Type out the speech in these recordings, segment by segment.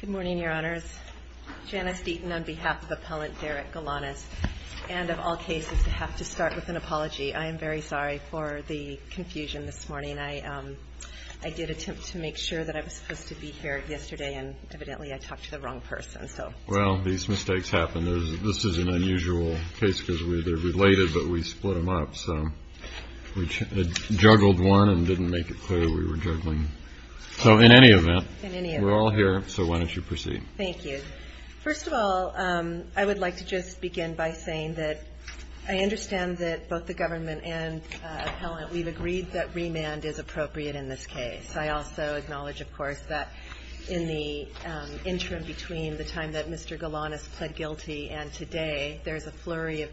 Good morning, Your Honors. Janice Deaton on behalf of Appellant Derek Galanis. And of all cases, I have to start with an apology. I am very sorry for the confusion this morning. I did attempt to make sure that I was supposed to be here yesterday, and evidently I talked to the wrong person, so. Well, these mistakes happen. This is an unusual case, because they're related, but we split them up. So we juggled one and didn't make it clear we were juggling So in any event, we're all here, so why don't you proceed. Thank you. First of all, I would like to just begin by saying that I understand that both the government and appellant, we've agreed that remand is appropriate in this case. I also acknowledge, of course, that in the interim between the time that Mr. Galanis pled guilty and today, there's a flurry of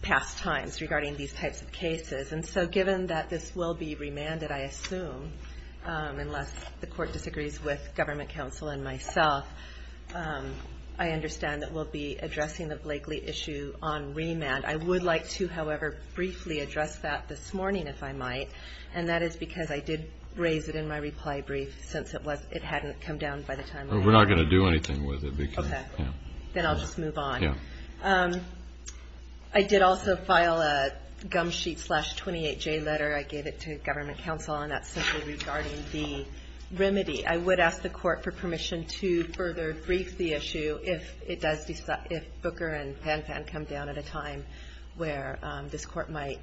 past times regarding these types of cases. And so given that this will be remanded, I assume, unless the court disagrees with government counsel and myself, I understand that we'll be addressing the Blakely issue on remand. I would like to, however, briefly address that this morning, if I might. And that is because I did raise it in my reply brief, since it hadn't come down by the time I got here. We're not going to do anything with it. Okay. Then I'll just move on. I did also file a gum sheet slash 28J letter. I gave it to government counsel, and that's simply regarding the remedy. I would ask the court for permission to further brief the issue if it does decide, if Booker and Panpan come down at a time where this court might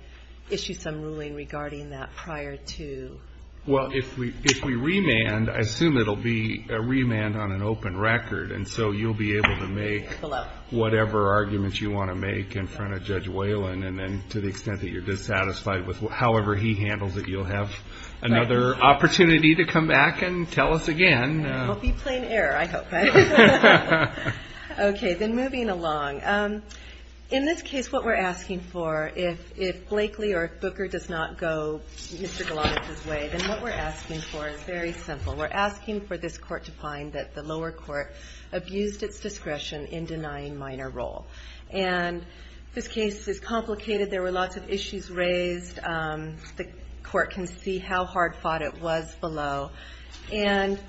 issue some ruling regarding that prior to... Well, if we remand, I assume it'll be a remand on an open record. And so you'll be able to make whatever arguments you want to make in front of Judge Whalen. And then to the extent that you're dissatisfied with however he handles it, you'll have another opportunity to come back and tell us again. I hope you play an error. I hope. Okay. Then moving along. In this case, what we're asking for, if Blakely or if Booker does not go Mr. Galanis' way, then what we're asking for is very simple. We're asking for this court to find that the lower court abused its discretion in denying minor role. And this case is complicated. There were lots of issues raised. The court can see how hard fought it was below. And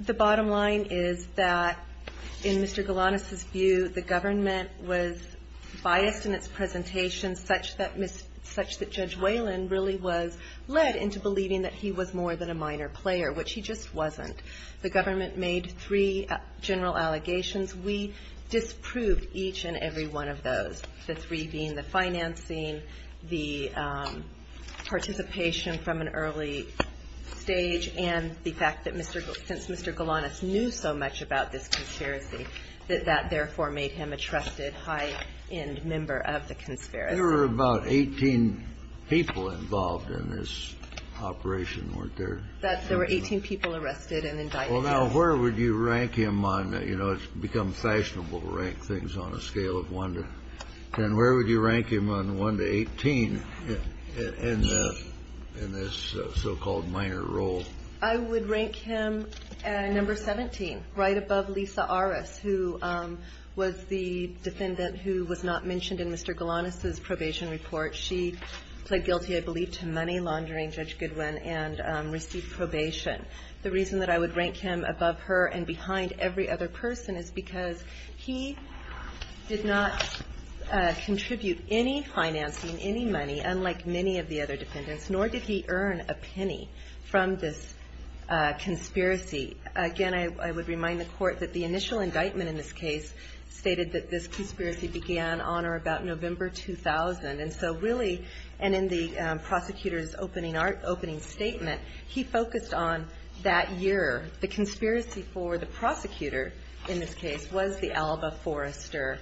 the bottom line is that in Mr. Galanis' view, the government was biased in its presentation such that Judge Whalen really was led into believing that he was more than a minor player, which he just wasn't. The government made three general allegations. We disproved each and every one of those, the three being the financing, the participation from an early stage, and the fact that since Mr. Galanis knew so much, that therefore made him a trusted high-end member of the conspiracy. There were about 18 people involved in this operation, weren't there? There were 18 people arrested and indicted. Well, now, where would you rank him on, you know, it's become fashionable to rank things on a scale of 1 to 10. Where would you rank him on 1 to 18 in this so-called minor role? I would rank him at number 17, right above Lisa Arras, who was the defendant who was not mentioned in Mr. Galanis' probation report. She pled guilty, I believe, to money laundering, Judge Goodwin, and received probation. The reason that I would rank him above her and behind every other person is because he did not contribute any financing, any money, unlike many of the other defendants, nor did he earn a penny from this conspiracy. Again, I would remind the Court that the initial indictment in this case stated that this conspiracy began on or about November 2000. And so, really, and in the prosecutor's opening statement, he focused on that year. The conspiracy for the prosecutor in this case was the Alba Forrester,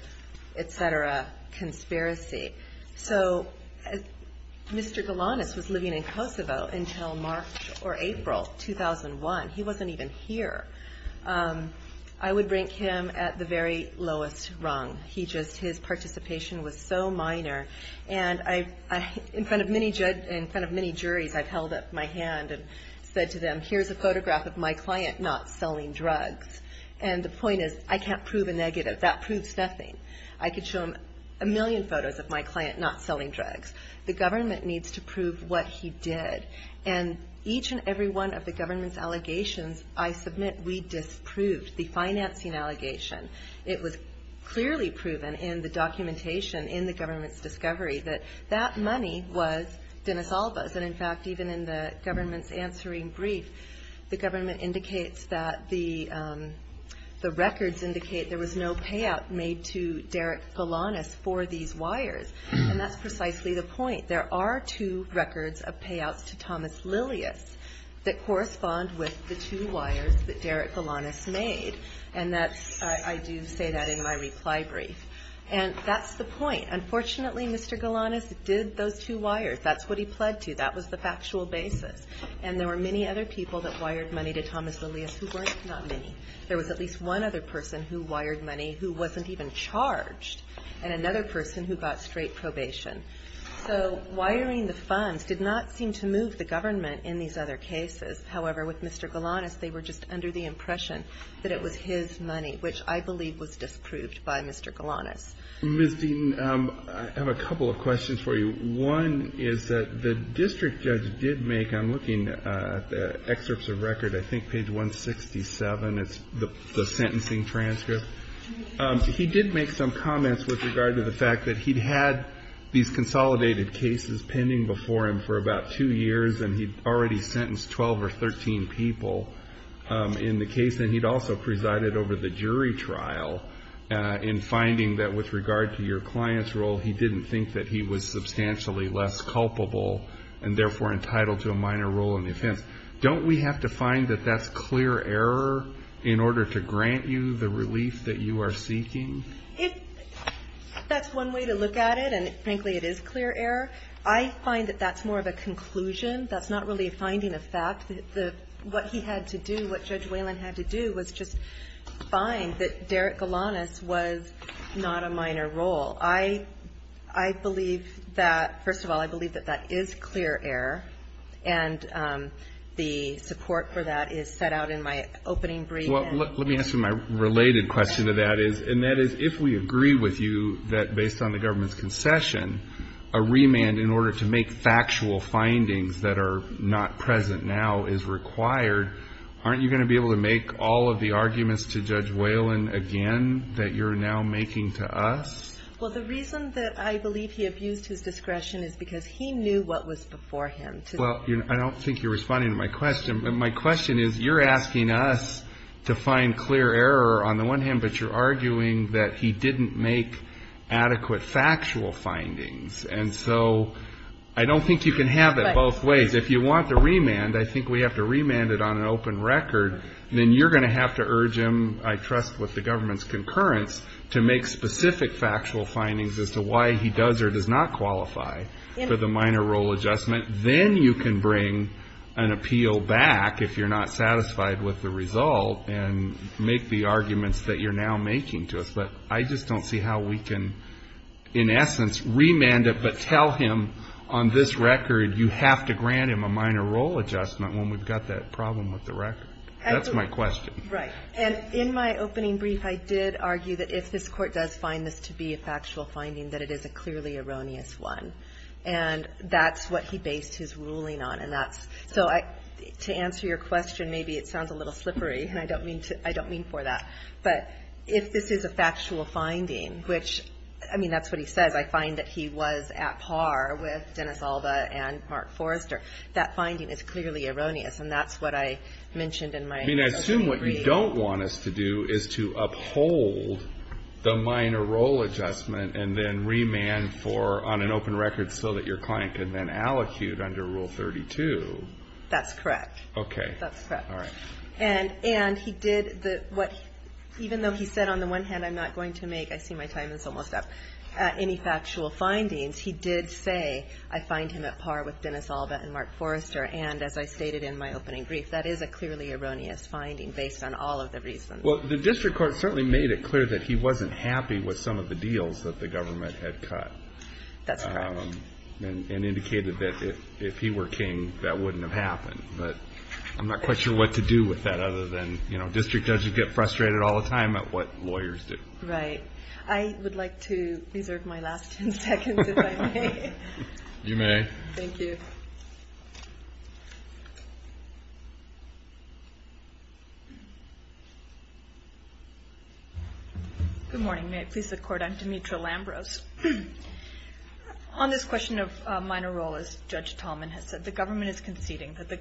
et cetera, conspiracy. So, Mr. Galanis was living in Kosovo until March or April, and he was convicted of the Alba Forrester case in the fall of 2001. He wasn't even here. I would rank him at the very lowest rung. His participation was so minor, and in front of many juries, I've held up my hand and said to them, here's a photograph of my client not selling drugs. And the point is, I can't prove a negative. That proves nothing. I could show them a million photos of my client not selling drugs. The government needs to prove what he did, and each and every one of the government's allegations, I submit, we disproved. The financing allegation, it was clearly proven in the documentation in the government's discovery that that money was Denis Alba's. And in fact, even in the government's answering brief, the government indicates that the records indicate there was no payout made to Derek Galanis for these wires. And that's precisely the point. There are two records of payouts to Thomas Lilius that correspond with the two wires that Derek Galanis made. And I do say that in my reply brief. And that's the point. Unfortunately, Mr. Galanis did those two wires. That's what he pled to. That was the factual basis. And there were many other people that wired money to Thomas Lilius who weren't not many. There was at least one other person who wired money who wasn't even charged, and another person who got straight probation. So wiring the funds did not seem to move the government in these other cases. However, with Mr. Galanis, they were just under the impression that it was his money, which I believe was disproved by Mr. Galanis. Mr. Dean, I have a couple of questions for you. One is that the district judge did make, I'm looking at the excerpts of record, I think page 167, it's the sentencing transcript. He did make some comments with regard to the fact that he'd had these consolidated cases pending before him for about two years, and he'd already sentenced 12 or 13 people in the case. And he'd also presided over the jury trial in finding that with regard to your client's role, he didn't think that he was substantially less culpable, and therefore entitled to a minor role in the offense. Don't we have to find that that's clear error in order to grant you the relief that you are seeking? If that's one way to look at it, and frankly, it is clear error, I find that that's more of a conclusion. That's not really a finding of fact. What he had to do, what Judge Whalen had to do was just find that Derek Galanis was not a minor role. I believe that, first of all, I believe that that is clear error, and the support for that is set out in my opening statement. And that is, if we agree with you that, based on the government's concession, a remand in order to make factual findings that are not present now is required, aren't you going to be able to make all of the arguments to Judge Whalen again that you're now making to us? Well, the reason that I believe he abused his discretion is because he knew what was before him. Well, I don't think you're responding to my question, but my question is, you're asking us to find clear error on the one hand, but you're arguing that he didn't make adequate factual findings, and so I don't think you can have it both ways. If you want the remand, I think we have to remand it on an open record, then you're going to have to urge him, I trust with the government's concurrence, to make specific factual findings as to why he does or does not qualify for the minor role adjustment. Then you can bring an appeal back if you're not satisfied with the result and make the arguments that you're now making to us, but I just don't see how we can, in essence, remand it but tell him on this record you have to grant him a minor role adjustment when we've got that problem with the record. That's my question. Right. And in my opening brief, I did argue that if this Court does find this to be a factual finding, that it is a clearly erroneous one, and that's what he based his ruling on, and that's so I, to answer your question, maybe it sounds a little slippery, and I don't mean to, I don't mean for that, but if this is a factual finding, which, I mean, that's what he says. I find that he was at par with Dennis Alba and Mark Forrester. That finding is clearly erroneous, and that's what I mentioned in my opening brief. I mean, I assume what you don't want us to do is to uphold the minor role adjustment and then remand for, on an open record, so that your client can then allocute under Rule 32. That's correct. Okay. That's correct. And he did the, what, even though he said on the one hand, I'm not going to make, I see my time is almost up, any factual findings, he did say, I find him at par with Dennis Alba and Mark Forrester, and as I stated in my opening brief, that's an erroneous finding, based on all of the reasons. Well, the district court certainly made it clear that he wasn't happy with some of the deals that the government had cut. That's correct. And indicated that if he were king, that wouldn't have happened, but I'm not quite sure what to do with that, other than, you know, district judges get frustrated all the time at what lawyers do. Right. I would like to reserve my last ten seconds, if I may. You may. Thank you. Good morning. May it please the Court, I'm Demetra Lambrose. On this question of minor role, as Judge Tallman has said, the government is conceding that the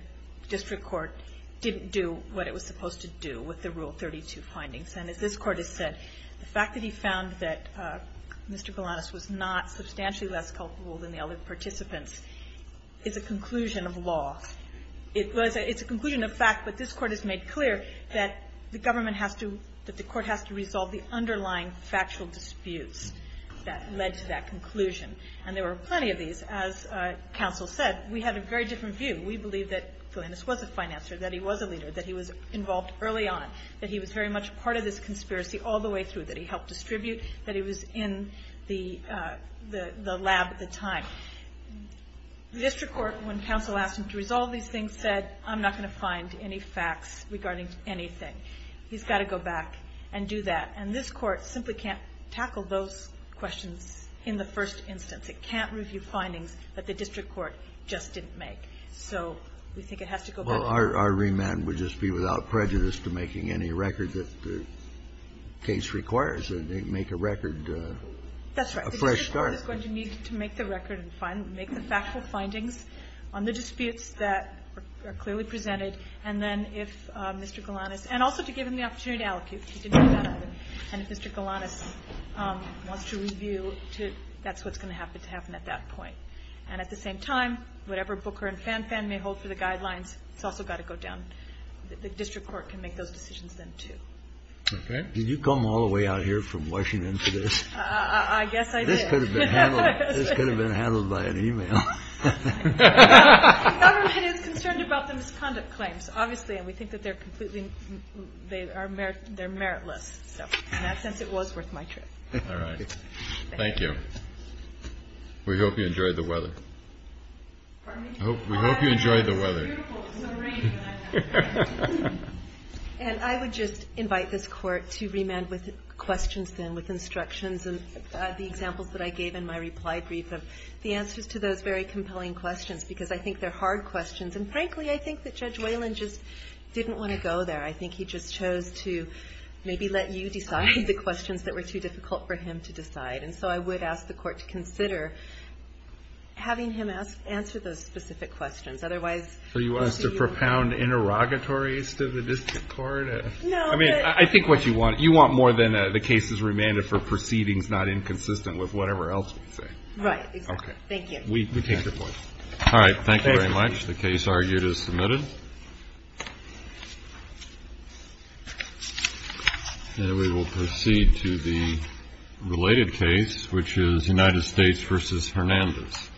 district court didn't do what it was supposed to do with the Rule 32 findings, and as this Court has said, the fact that he found that Mr. Bellanus was not substantially less culpable than the other participants is a conclusion of law. It's a conclusion of fact, but this Court has made clear that the government has to, that the Court has to resolve the underlying factual disputes that led to that conclusion, and there were plenty of these. As counsel said, we had a very different view. We believe that Bellanus was a financer, that he was a leader, that he was involved early on, that he was very much a part of this conspiracy all the way through, that he helped distribute, that he was in the lab at the time. The district court, when counsel asked him to resolve these things, said, I'm not going to find any facts regarding anything. He's got to go back and do that. And this Court simply can't tackle those questions in the first instance. It can't review findings that the district court just didn't make. So we think it has to go back to the court. Well, our remand would just be without prejudice to making any record that the case requires, make a record, a fresh start. The district court is going to need to make the record and make the factual findings on the disputes that are clearly presented, and then if Mr. Bellanus, and also to give him the opportunity to allocate, if he didn't do that, and if Mr. Bellanus wants to review, that's what's going to happen at that point. And at the same time, whatever Booker and Fanfan may hold for the guidelines, it's also got to go down. The district court can make those decisions then, too. Okay. Did you come all the way out here from Washington for this? I guess I did. This could have been handled by an email. The government is concerned about the misconduct claims, obviously, and we think that they're meritless. In that sense, it was worth my trip. Thank you. We hope you enjoyed the weather. Pardon me? We hope you enjoyed the weather. And I would just invite this court to remand with questions then, with instructions and the examples that I gave in my reply brief, the answers to those very compelling questions, because I think they're hard questions. And frankly, I think that Judge Whalen just didn't want to go there. I think he just chose to maybe let you decide the questions that were too difficult for him to decide. And so I would ask the court to consider having him answer those specific questions. So you want us to propound interrogatories to the district court? No. I mean, I think what you want, you want more than the cases remanded for proceedings not inconsistent with whatever else we say. Right. Okay. Thank you. We take your point. All right. Thank you very much. The case argued is submitted. And we will proceed to the related case, which is United States v. Hernandez.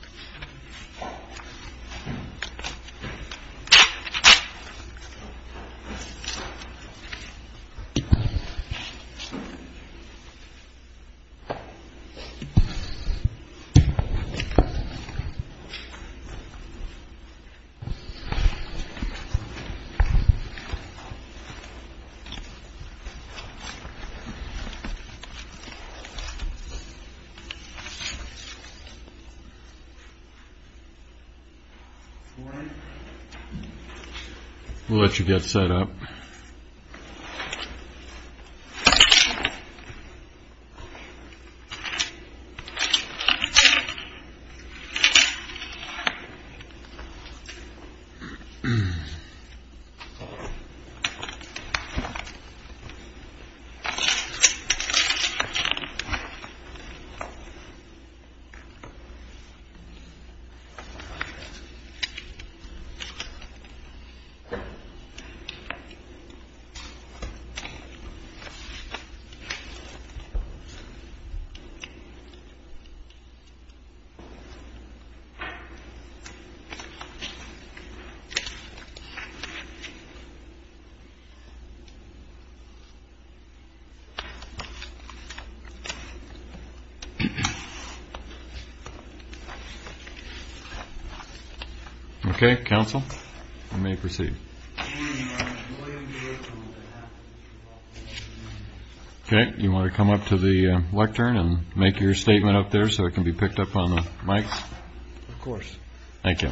All right. We'll let you get set up. Okay. Counsel, you may proceed. Okay. You want to come up to the lectern and make your statement up there so it can be picked up on the mic? Of course. Thank you.